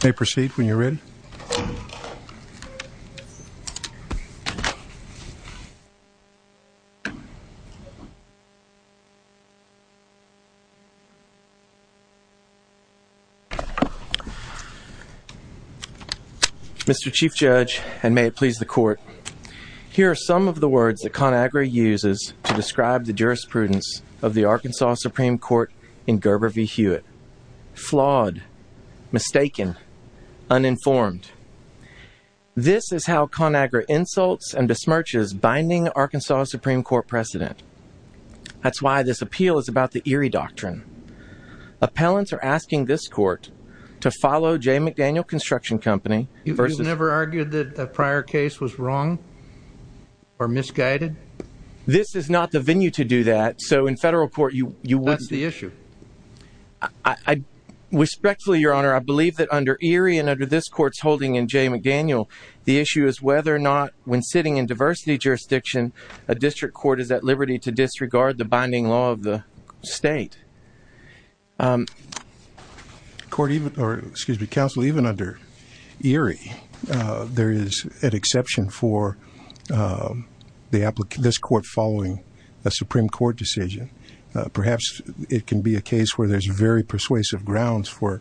They proceed when you're ready Mr. Chief Judge and may it please the court here are some of the words that Conagra uses to describe the jurisprudence of the Arkansas Supreme Court in Gerber v. Hewitt. Flawed, mistaken, uninformed. This is how Conagra insults and besmirches binding Arkansas Supreme Court precedent. That's why this appeal is about the Erie Doctrine. Appellants are asking this court to follow J McDaniel Construction Company. You've never argued that the prior case was wrong or misguided? This is not the venue to do that so in federal court you wouldn't. That's the issue. I respectfully your honor I believe that under Erie and under this court's holding in J McDaniel the issue is whether or not when sitting in diversity jurisdiction a district court is at liberty to disregard the binding law of the state. Court even, or excuse me, counsel even under Erie there is an exception for this court following a perhaps it can be a case where there's very persuasive grounds for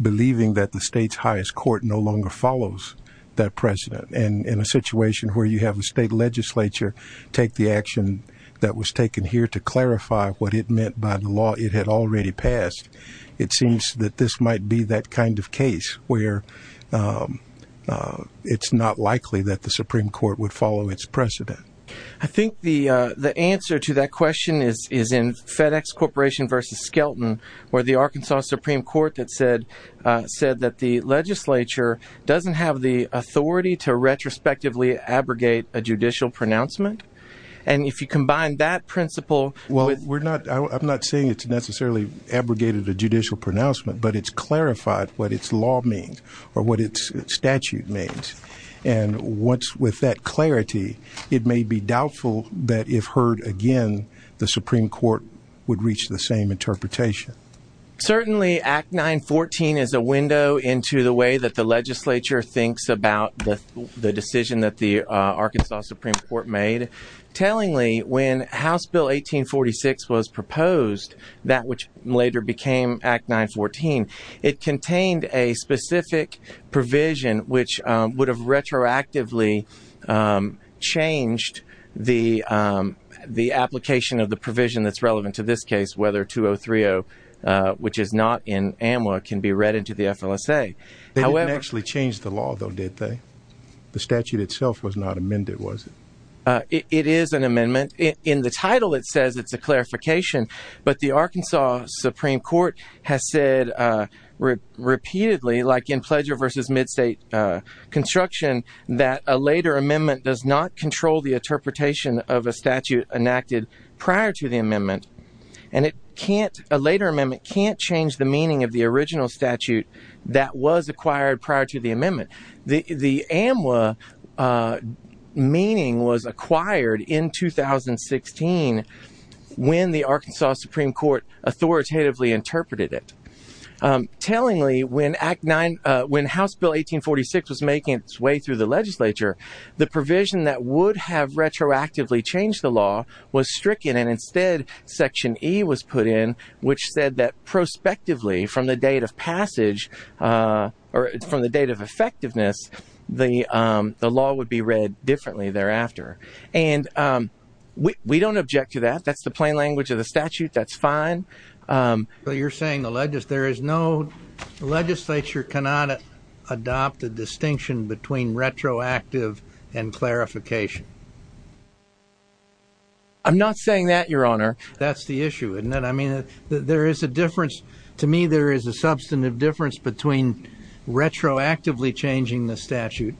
believing that the state's highest court no longer follows that precedent and in a situation where you have the state legislature take the action that was taken here to clarify what it meant by the law it had already passed it seems that this might be that kind of case where it's not likely that the Supreme Court would follow its precedent. I think the the answer to that question is is in FedEx Corporation versus Skelton where the Arkansas Supreme Court that said said that the legislature doesn't have the authority to retrospectively abrogate a judicial pronouncement and if you combine that principle... Well we're not I'm not saying it's necessarily abrogated a judicial pronouncement but it's clarified what its law means or what its statute means and once with that clarity it may be doubtful that if heard again the Supreme Court would reach the same interpretation. Certainly Act 914 is a window into the way that the legislature thinks about the decision that the Arkansas Supreme Court made. Tellingly when House Bill 1846 was proposed that which later became Act 914 it contained a specific provision which would have retroactively changed the the application of the provision that's relevant to this case whether 2030 which is not in AMWA can be read into the FLSA. They didn't actually change the law though did they? The statute itself was not amended was it? It is an amendment in the title it has said repeatedly like in pledger versus mid state construction that a later amendment does not control the interpretation of a statute enacted prior to the amendment and it can't a later amendment can't change the meaning of the original statute that was acquired prior to the amendment. The AMWA meaning was acquired in 2016 when the Arkansas Supreme Court authoritatively did it. Tellingly when House Bill 1846 was making its way through the legislature the provision that would have retroactively changed the law was stricken and instead section E was put in which said that prospectively from the date of passage or from the date of effectiveness the law would be read differently thereafter and we don't object to that that's the plain language of the statute that's fine. But you're saying the legislature cannot adopt a distinction between retroactive and clarification? I'm not saying that your honor. That's the issue isn't it? I mean there is a difference to me there is a substantive difference between retroactively changing the statute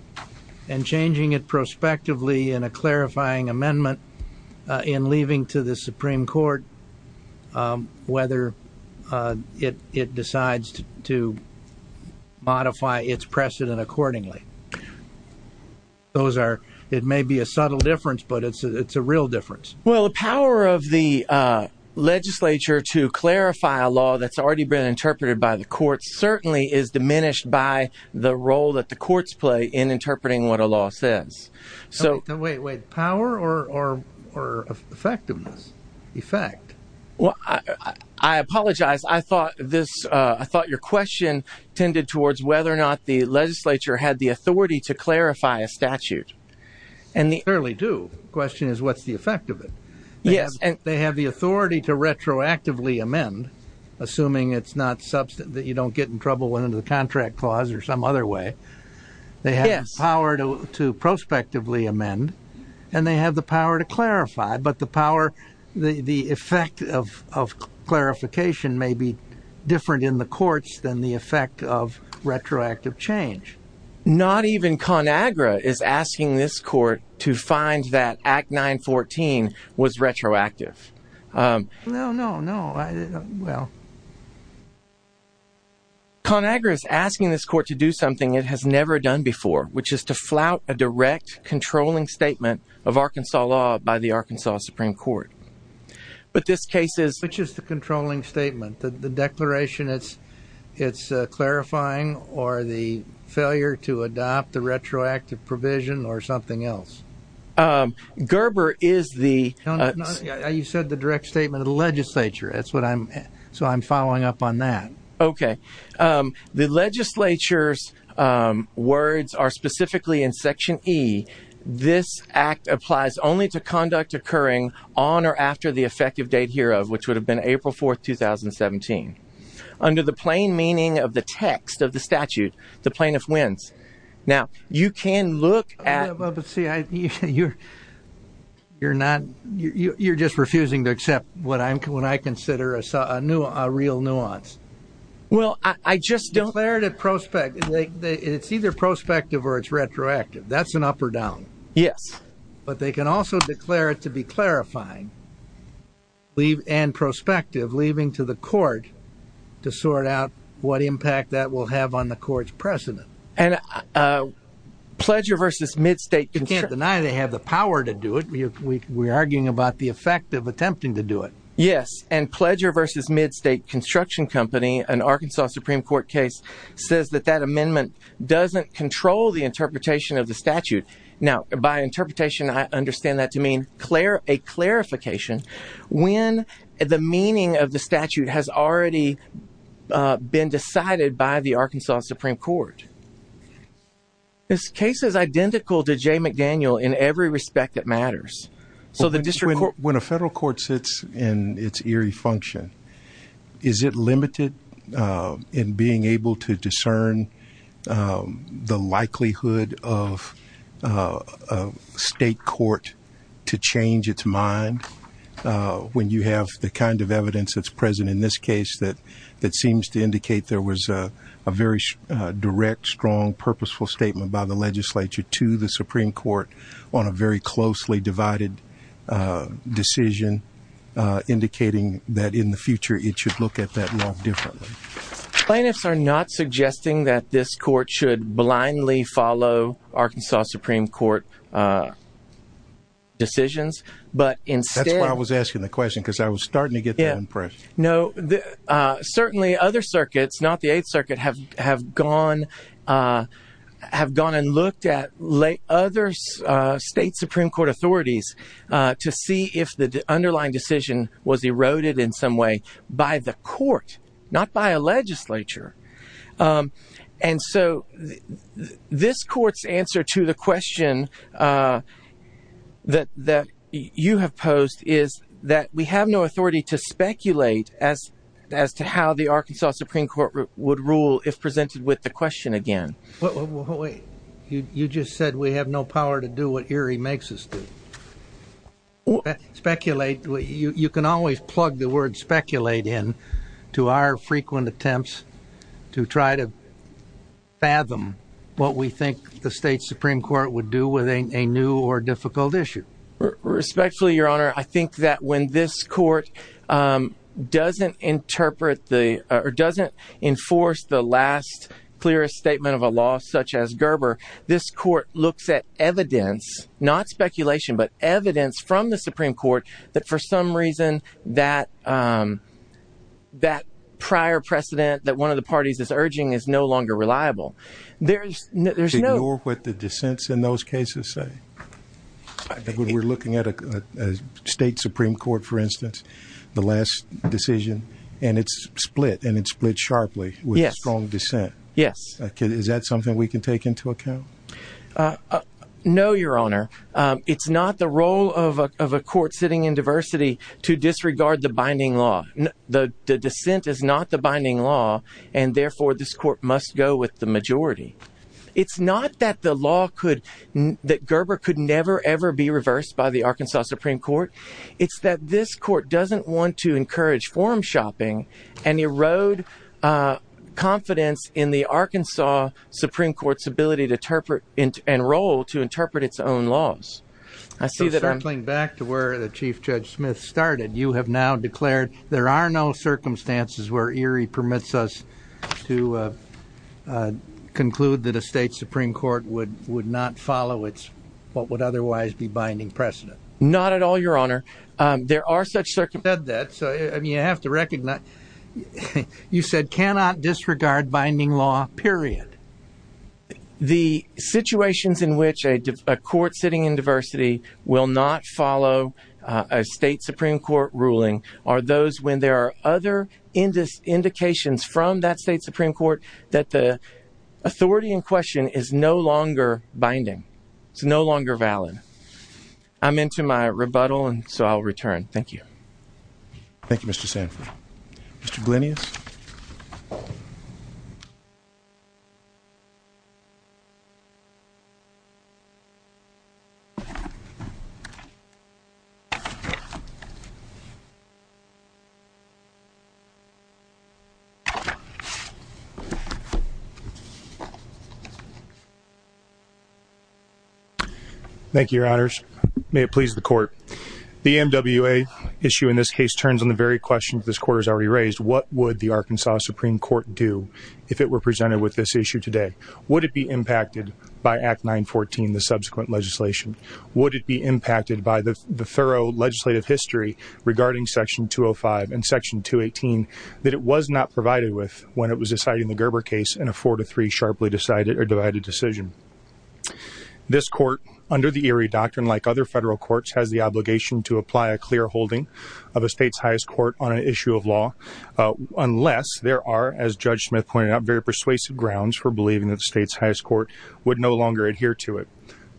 and changing it prospectively in a clarifying amendment in leaving to the Supreme Court whether it decides to modify its precedent accordingly. It may be a subtle difference but it's a real difference. Well the power of the legislature to clarify a law that's already been interpreted by the court certainly is diminished by the role that the courts play in interpreting what a law says. So wait wait power or effectiveness effect? Well I apologize I thought this I thought your question tended towards whether or not the legislature had the authority to clarify a statute. And they clearly do question is what's the effect of it? Yes and they have the authority to retroactively amend assuming it's not substance that you don't get in trouble into the prospectively amend and they have the power to clarify but the power the effect of clarification may be different in the courts than the effect of retroactive change. Not even ConAgra is asking this court to find that Act 914 was retroactive. No no no. ConAgra is asking this court to do something it has never done before which is to flout a direct controlling statement of Arkansas law by the Arkansas Supreme Court. But this case is. Which is the controlling statement the declaration it's it's clarifying or the failure to adopt the retroactive provision or something else? Gerber is the. You said the direct statement of the legislature that's what I'm so I'm following up on that. Okay the legislature's words are specifically in Section E. This act applies only to conduct occurring on or after the effective date hereof which would have been April 4th 2017. Under the plain meaning of the text of the statute the plaintiff wins. Now you can look at. But see you're not you're just refusing to consider a real nuance. Well I just don't. It's either prospective or it's retroactive. That's an up or down. Yes. But they can also declare it to be clarifying and prospective leaving to the court to sort out what impact that will have on the court's precedent. And Pledger versus Midstate. You can't deny they have the power to do it. We're arguing about the effect of attempting to do it. Yes and Pledger versus Midstate Construction Company an Arkansas Supreme Court case says that that amendment doesn't control the interpretation of the statute. Now by interpretation I understand that to mean clear a clarification when the meaning of the statute has already been decided by the Arkansas Supreme Court. This case is identical to Jay McDaniel in every respect that matters. So the district court. When a federal court sits in its eerie function is it limited in being able to discern the likelihood of a state court to change its mind when you have the kind of evidence that's present in this case that that seems to indicate there was a very direct strong purposeful statement by the legislature to the Supreme Court on a very closely divided decision indicating that in the future it should look at that law differently. Plaintiffs are not suggesting that this court should blindly follow Arkansas Supreme Court decisions but instead. That's why I was asking the question because I was starting to get that impression. No certainly other circuits not the 8th have gone and looked at other state Supreme Court authorities to see if the underlying decision was eroded in some way by the court not by a legislature. And so this court's answer to the question that you have posed is that we have no authority to speculate as as to how the Arkansas Supreme Court would rule if presented with the question again. You just said we have no power to do what Erie makes us do. Speculate. You can always plug the word speculate in to our frequent attempts to try to fathom what we think the state Supreme Court would do with a new or difficult issue. Respectfully your honor I think that when this court doesn't interpret the doesn't enforce the last clearest statement of a law such as Gerber this court looks at evidence not speculation but evidence from the Supreme Court that for some reason that that prior precedent that one of the parties is urging is no longer reliable. There's no what the dissents in those cases say. When we're looking at a state Supreme Court for instance the last decision and it's split and it's split sharply with strong dissent. Yes. Is that something we can take into account? No your honor. It's not the role of a court sitting in diversity to disregard the binding law. The dissent is not the binding law and therefore this court must go with the majority. It's not that the law could that Gerber could never ever be reversed by the Arkansas Supreme Court. It's that this court doesn't want to encourage form-shopping and erode confidence in the Arkansas Supreme Court's ability to interpret and role to interpret its own laws. I see that. Circling back to where the Chief Judge Smith started you have now declared there are no circumstances where Erie permits us to conclude that a state Supreme Court would would not follow it's what would otherwise be binding precedent. Not at all your honor. There are such circumstances. I mean you have to recognize you said cannot disregard binding law period. The situations in which a court sitting in diversity will not follow a state Supreme Court ruling are those when there are other indications from that state Supreme Court that the authority in question is no longer binding. It's no longer valid. I'm into my rebuttal and so I'll return. Thank you. Thank you Mr. Sanford. Mr. Glinius. Thank you your honors. May it please the court. The MWA issue in this case turns on the very questions this court has already raised. What would the Arkansas Supreme Court do if it were presented with this issue today? Would it be impacted by Act 914 the subsequent legislation? Would it be impacted by the section 218 that it was not provided with when it was deciding the Gerber case and a four to three sharply decided or divided decision? This court under the Erie doctrine like other federal courts has the obligation to apply a clear holding of a state's highest court on an issue of law unless there are as Judge Smith pointed out very persuasive grounds for believing that the state's highest court would no longer adhere to it.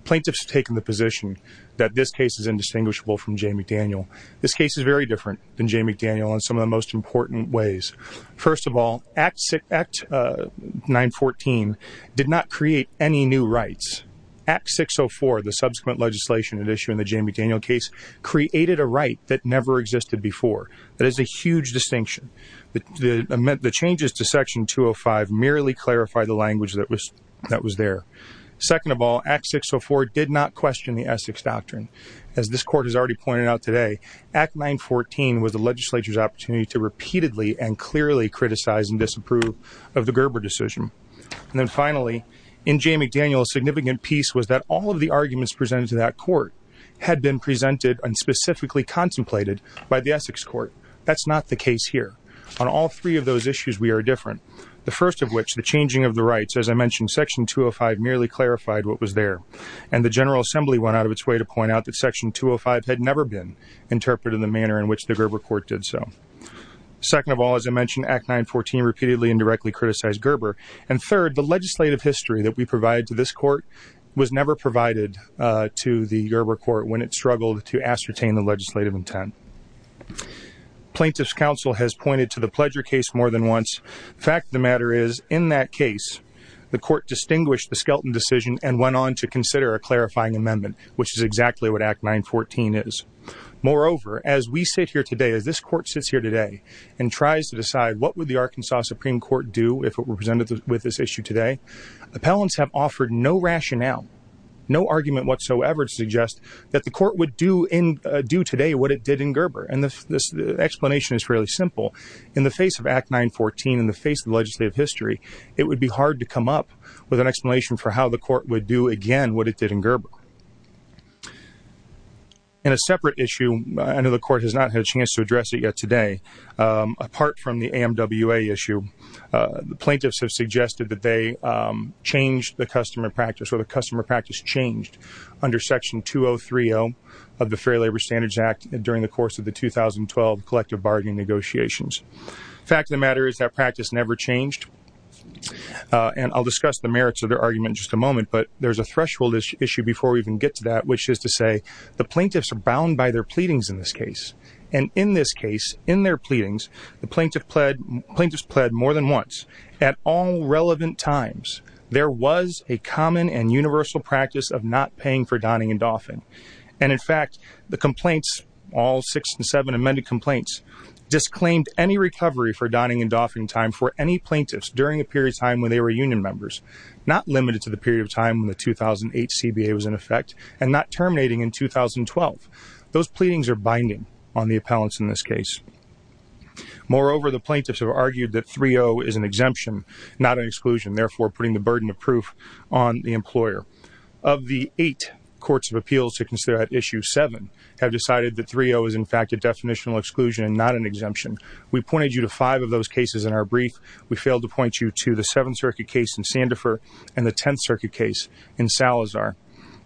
Plaintiffs have taken the position that this case is indistinguishable from Jay McDaniel. This case is very different than Jay McDaniel in some of the most important ways. First of all, Act 914 did not create any new rights. Act 604 the subsequent legislation at issue in the Jay McDaniel case created a right that never existed before. That is a huge distinction. The changes to section 205 merely clarify the language that was there. Second of all, Act 604 did not question the Essex legislature's opportunity to repeatedly and clearly criticize and disapprove of the Gerber decision. And then finally in Jay McDaniel a significant piece was that all of the arguments presented to that court had been presented and specifically contemplated by the Essex court. That's not the case here. On all three of those issues we are different. The first of which the changing of the rights as I mentioned section 205 merely clarified what was there and the General Assembly went out of its way to point out that section 205 had never been interpreted in the manner in which the Gerber court did so. Second of all, as I mentioned, Act 914 repeatedly and directly criticized Gerber. And third, the legislative history that we provide to this court was never provided to the Gerber court when it struggled to ascertain the legislative intent. Plaintiff's counsel has pointed to the Pledger case more than once. The fact of the matter is in that case the court distinguished the Skelton decision and went on to consider a clarifying amendment which is exactly what Act 914 is. Moreover, as we sit here today, as this court sits here today and tries to decide what would the Arkansas Supreme Court do if it were presented with this issue today, appellants have offered no rationale, no argument whatsoever to suggest that the court would do today what it did in Gerber. And the explanation is fairly simple. In the face of Act 914, in the face of the legislative history, it would be hard to come up with an explanation for how the In a separate issue, I know the court has not had a chance to address it yet today. Apart from the AMWA issue, the plaintiffs have suggested that they changed the customer practice or the customer practice changed under Section 203-0 of the Fair Labor Standards Act during the course of the 2012 collective bargaining negotiations. The fact of the matter is that practice never changed. And I'll discuss the merits of their argument in just a moment, but there's a plaintiffs are bound by their pleadings in this case. And in this case, in their pleadings, the plaintiffs pled more than once at all relevant times. There was a common and universal practice of not paying for donning and doffing. And in fact, the complaints, all six and seven amended complaints, disclaimed any recovery for donning and doffing time for any plaintiffs during a period of time when they were union members, not limited to the period of time when the 2008 CBA was in effect, and not terminating in 2012. Those pleadings are binding on the appellants in this case. Moreover, the plaintiffs have argued that 3-0 is an exemption, not an exclusion, therefore putting the burden of proof on the employer. Of the eight courts of appeals to consider at issue seven, have decided that 3-0 is in fact a definitional exclusion and not an exemption. We pointed you to five of those cases in our brief. We failed to point you to the 10th Circuit case in Salazar.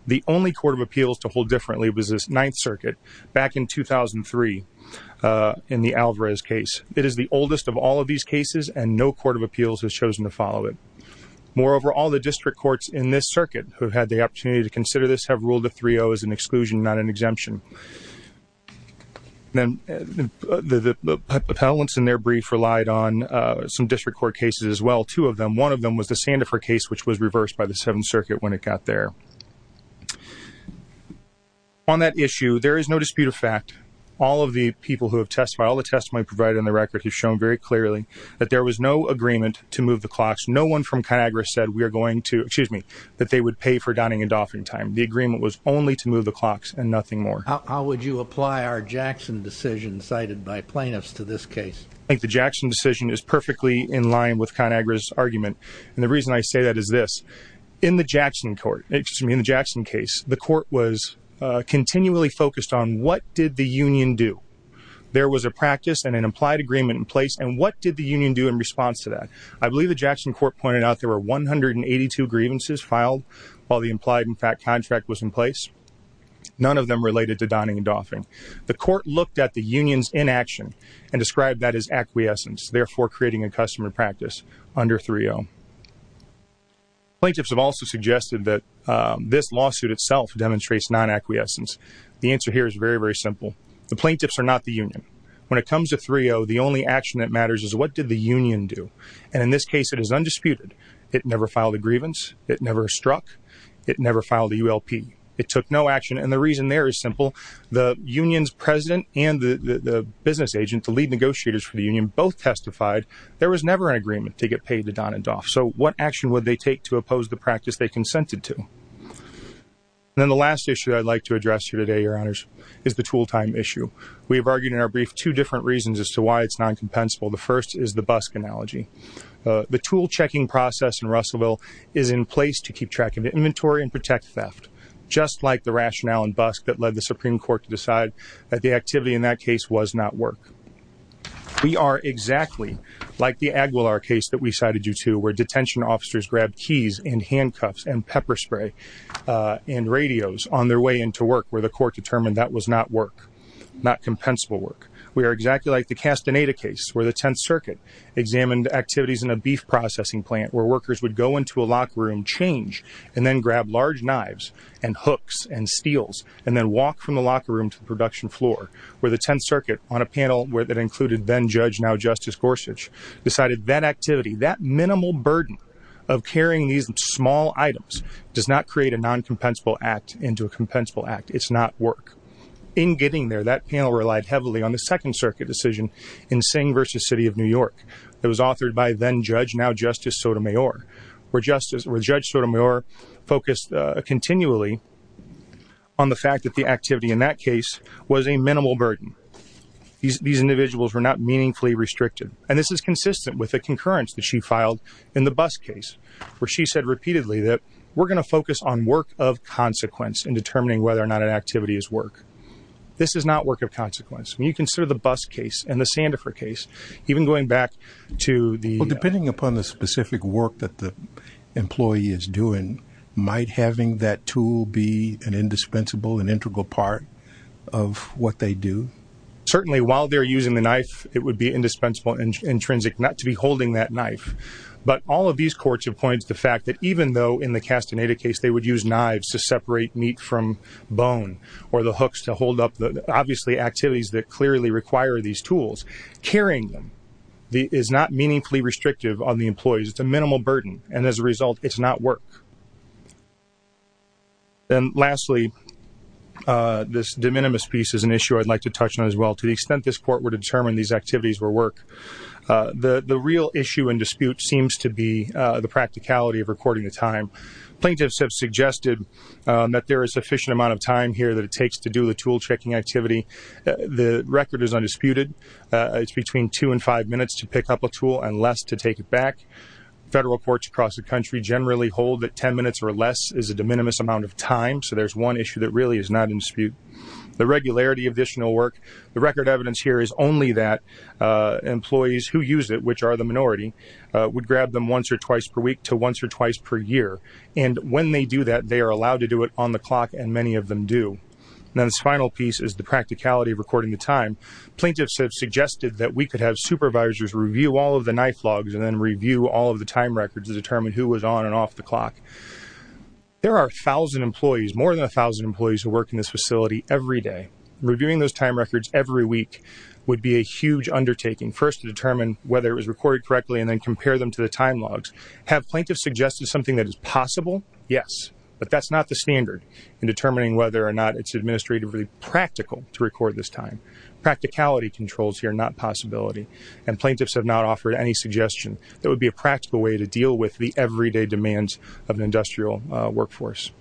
The only court of appeals to hold differently was this Ninth Circuit back in 2003 in the Alvarez case. It is the oldest of all of these cases and no court of appeals has chosen to follow it. Moreover, all the district courts in this circuit who have had the opportunity to consider this have ruled that 3-0 is an exclusion, not an exemption. Then the appellants in their brief relied on some district court cases as well, two of them. One of them was passed by the Seventh Circuit when it got there. On that issue, there is no dispute of fact. All of the people who have testified, all the testimony provided in the record has shown very clearly that there was no agreement to move the clocks. No one from ConAgra said we are going to, excuse me, that they would pay for dining and doffing time. The agreement was only to move the clocks and nothing more. How would you apply our Jackson decision cited by plaintiffs to this case? I think the Jackson decision is perfectly in line with ConAgra's argument and the reason I say that is this. In the Jackson court, excuse me, in the Jackson case, the court was continually focused on what did the union do. There was a practice and an implied agreement in place and what did the union do in response to that? I believe the Jackson court pointed out there were 182 grievances filed while the implied in fact contract was in place. None of them related to dining and doffing. The court looked at the union's inaction and described that as acquiescence, therefore creating a customer practice under 3-0. Plaintiffs have also suggested that this lawsuit itself demonstrates non-acquiescence. The answer here is very, very simple. The plaintiffs are not the union. When it comes to 3-0, the only action that matters is what did the union do? And in this case, it is undisputed. It never filed a grievance. It never struck. It never filed a ULP. It took no action and the reason there is simple. The union's president and the business agent, the there's never an agreement to get paid to don and doff. So what action would they take to oppose the practice they consented to? Then the last issue I'd like to address you today, your honors, is the tool time issue. We have argued in our brief two different reasons as to why it's non-compensable. The first is the bus analogy. The tool checking process in Russellville is in place to keep track of inventory and protect theft, just like the rationale and bus that led the Supreme Court to decide that the activity in that case was not work. We are exactly like the Aguilar case that we cited you to where detention officers grabbed keys and handcuffs and pepper spray, uh, and radios on their way into work where the court determined that was not work, not compensable work. We are exactly like the Castaneda case where the 10th Circuit examined activities in a beef processing plant where workers would go into a locker room, change and then grab large knives and hooks and steels and then walk from the locker room to the production floor where the 10th Circuit on a panel where that included then Judge, now Justice Gorsuch, decided that activity, that minimal burden of carrying these small items does not create a non-compensable act into a compensable act. It's not work. In getting there, that panel relied heavily on the Second Circuit decision in Singh v. City of New York. It was authored by then Judge, now Justice Sotomayor, where Justice, where Judge Sotomayor focused, uh, continually on the fact that the these, these individuals were not meaningfully restricted. And this is consistent with the concurrence that she filed in the bus case where she said repeatedly that we're going to focus on work of consequence in determining whether or not an activity is work. This is not work of consequence. When you consider the bus case and the Sandifer case, even going back to the, depending upon the specific work that the employee is doing, might having that tool be an indispensable, intrinsic, not to be holding that knife. But all of these courts appoints the fact that even though in the Castaneda case, they would use knives to separate meat from bone or the hooks to hold up the, obviously activities that clearly require these tools. Carrying them is not meaningfully restrictive on the employees. It's a minimal burden. And as a result, it's not work. Then lastly, uh, this de minimis piece is an issue I'd like to touch on as well to the extent this court would determine these activities were work. The real issue in dispute seems to be the practicality of recording the time plaintiffs have suggested that there is sufficient amount of time here that it takes to do the tool checking activity. The record is undisputed. It's between two and five minutes to pick up a tool and less to take it back. Federal courts across the country generally hold that 10 minutes or less is a de minimis amount of time. So there's one issue that really is not in dispute. The record evidence here is only that, uh, employees who use it, which are the minority, uh, would grab them once or twice per week to once or twice per year. And when they do that, they are allowed to do it on the clock. And many of them do. And then this final piece is the practicality of recording the time plaintiffs have suggested that we could have supervisors review all of the knife logs and then review all of the time records to determine who was on and off the clock. There are 1000 employees, more than 1000 employees who work in this facility every day. Reviewing those time records every week would be a huge undertaking first to determine whether it was recorded correctly and then compare them to the time logs. Have plaintiffs suggested something that is possible? Yes. But that's not the standard in determining whether or not it's administratively practical to record this time. Practicality controls here, not possibility. And plaintiffs have not offered any suggestion that would be a practical way to deal with the everyday demands of industrial workforce.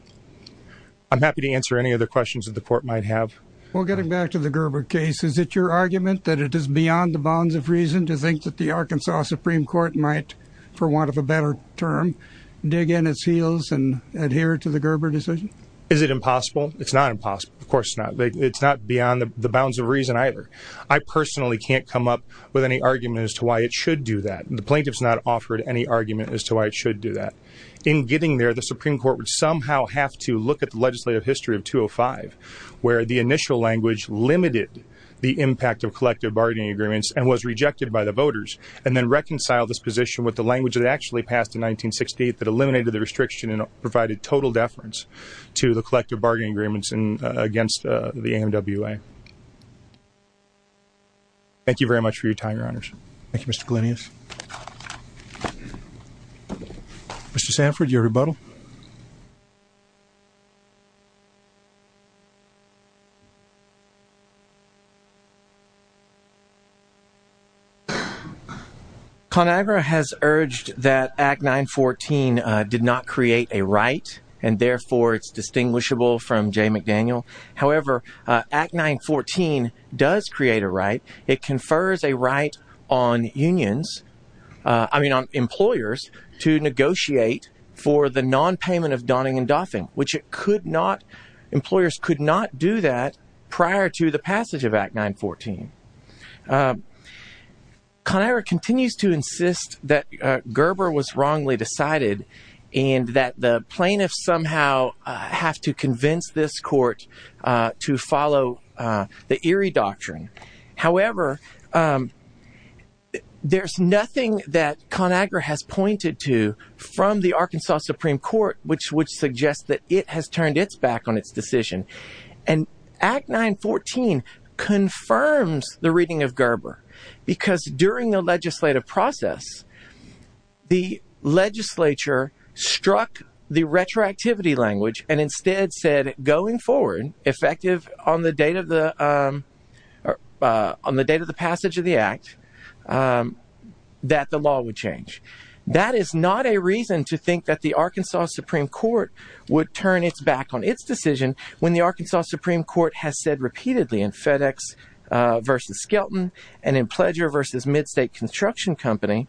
I'm happy to answer any other questions that the court might have. Well, getting back to the Gerber case, is it your argument that it is beyond the bounds of reason to think that the Arkansas Supreme Court might for want of a better term, dig in its heels and adhere to the Gerber decision? Is it impossible? It's not impossible. Of course not. It's not beyond the bounds of reason either. I personally can't come up with any argument as to why it should do that. The plaintiff's not offered any argument as to why it would somehow have to look at the legislative history of 205, where the initial language limited the impact of collective bargaining agreements and was rejected by the voters and then reconciled this position with the language that actually passed in 1968 that eliminated the restriction and provided total deference to the collective bargaining agreements and against the M. W. A. Thank you very much for your time, Your Honors. Thank you, Mr. Glenius. Mr. Sanford, your rebuttal. ConAgra has urged that Act 914 did not create a right, and therefore it's distinguishable from J. McDaniel. However, Act 914 does create a right. It confers a right on employers to negotiate for the nonpayment of donning and doffing, which employers could not do that prior to the passage of Act 914. ConAgra continues to insist that Gerber was wrongly decided and that the plaintiffs somehow have to convince this court to follow the Erie Doctrine. However, there's nothing that ConAgra has pointed to from the Arkansas Supreme Court, which would suggest that it has turned its back on its decision. And Act 914 confirms the reading of Gerber because during the legislative process, the legislature struck the retroactivity language and instead said going forward, effective on the date of the passage of the Act, that the law would change. That is not a reason to think that the Arkansas Supreme Court would turn its back on its decision when the Arkansas Supreme Court has said repeatedly in FedEx v. Skelton and in Pledger v. MidState Construction Company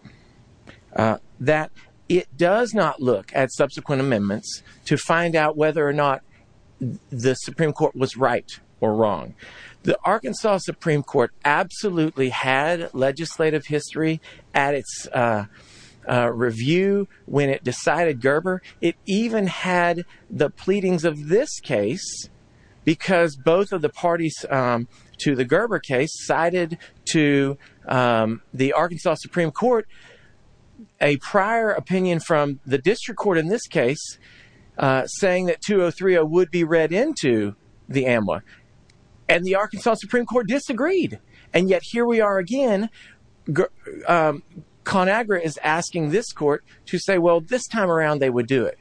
that it does not look at subsequent amendments to find out whether or not the Supreme Court was right or wrong. The Arkansas Supreme Court absolutely had legislative history at its review when it decided Gerber. It even had the pleadings of this case because both of the parties to the Gerber case cited to the Arkansas Supreme Court a prior opinion from the saying that 2030 would be read into the AMWA. And the Arkansas Supreme Court disagreed. And yet here we are again. ConAgra is asking this court to say, well, this time around they would do it.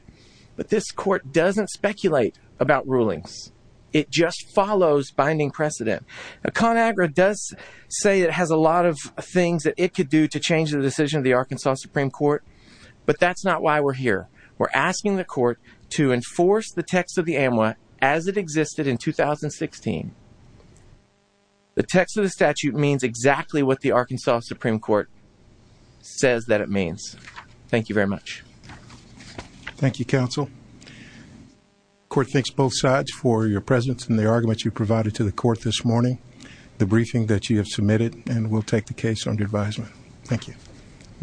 But this court doesn't speculate about rulings. It just follows binding precedent. ConAgra does say it has a lot of things that it could do to change the decision of the Arkansas Supreme Court, but that's not why we're here. We're asking the court to enforce the text of the AMWA as it existed in 2016. The text of the statute means exactly what the Arkansas Supreme Court says that it means. Thank you very much. Thank you, counsel. Court thanks both sides for your presence and the argument you provided to the court this morning, the briefing that you have submitted, and we'll take the case under advisement. Thank you.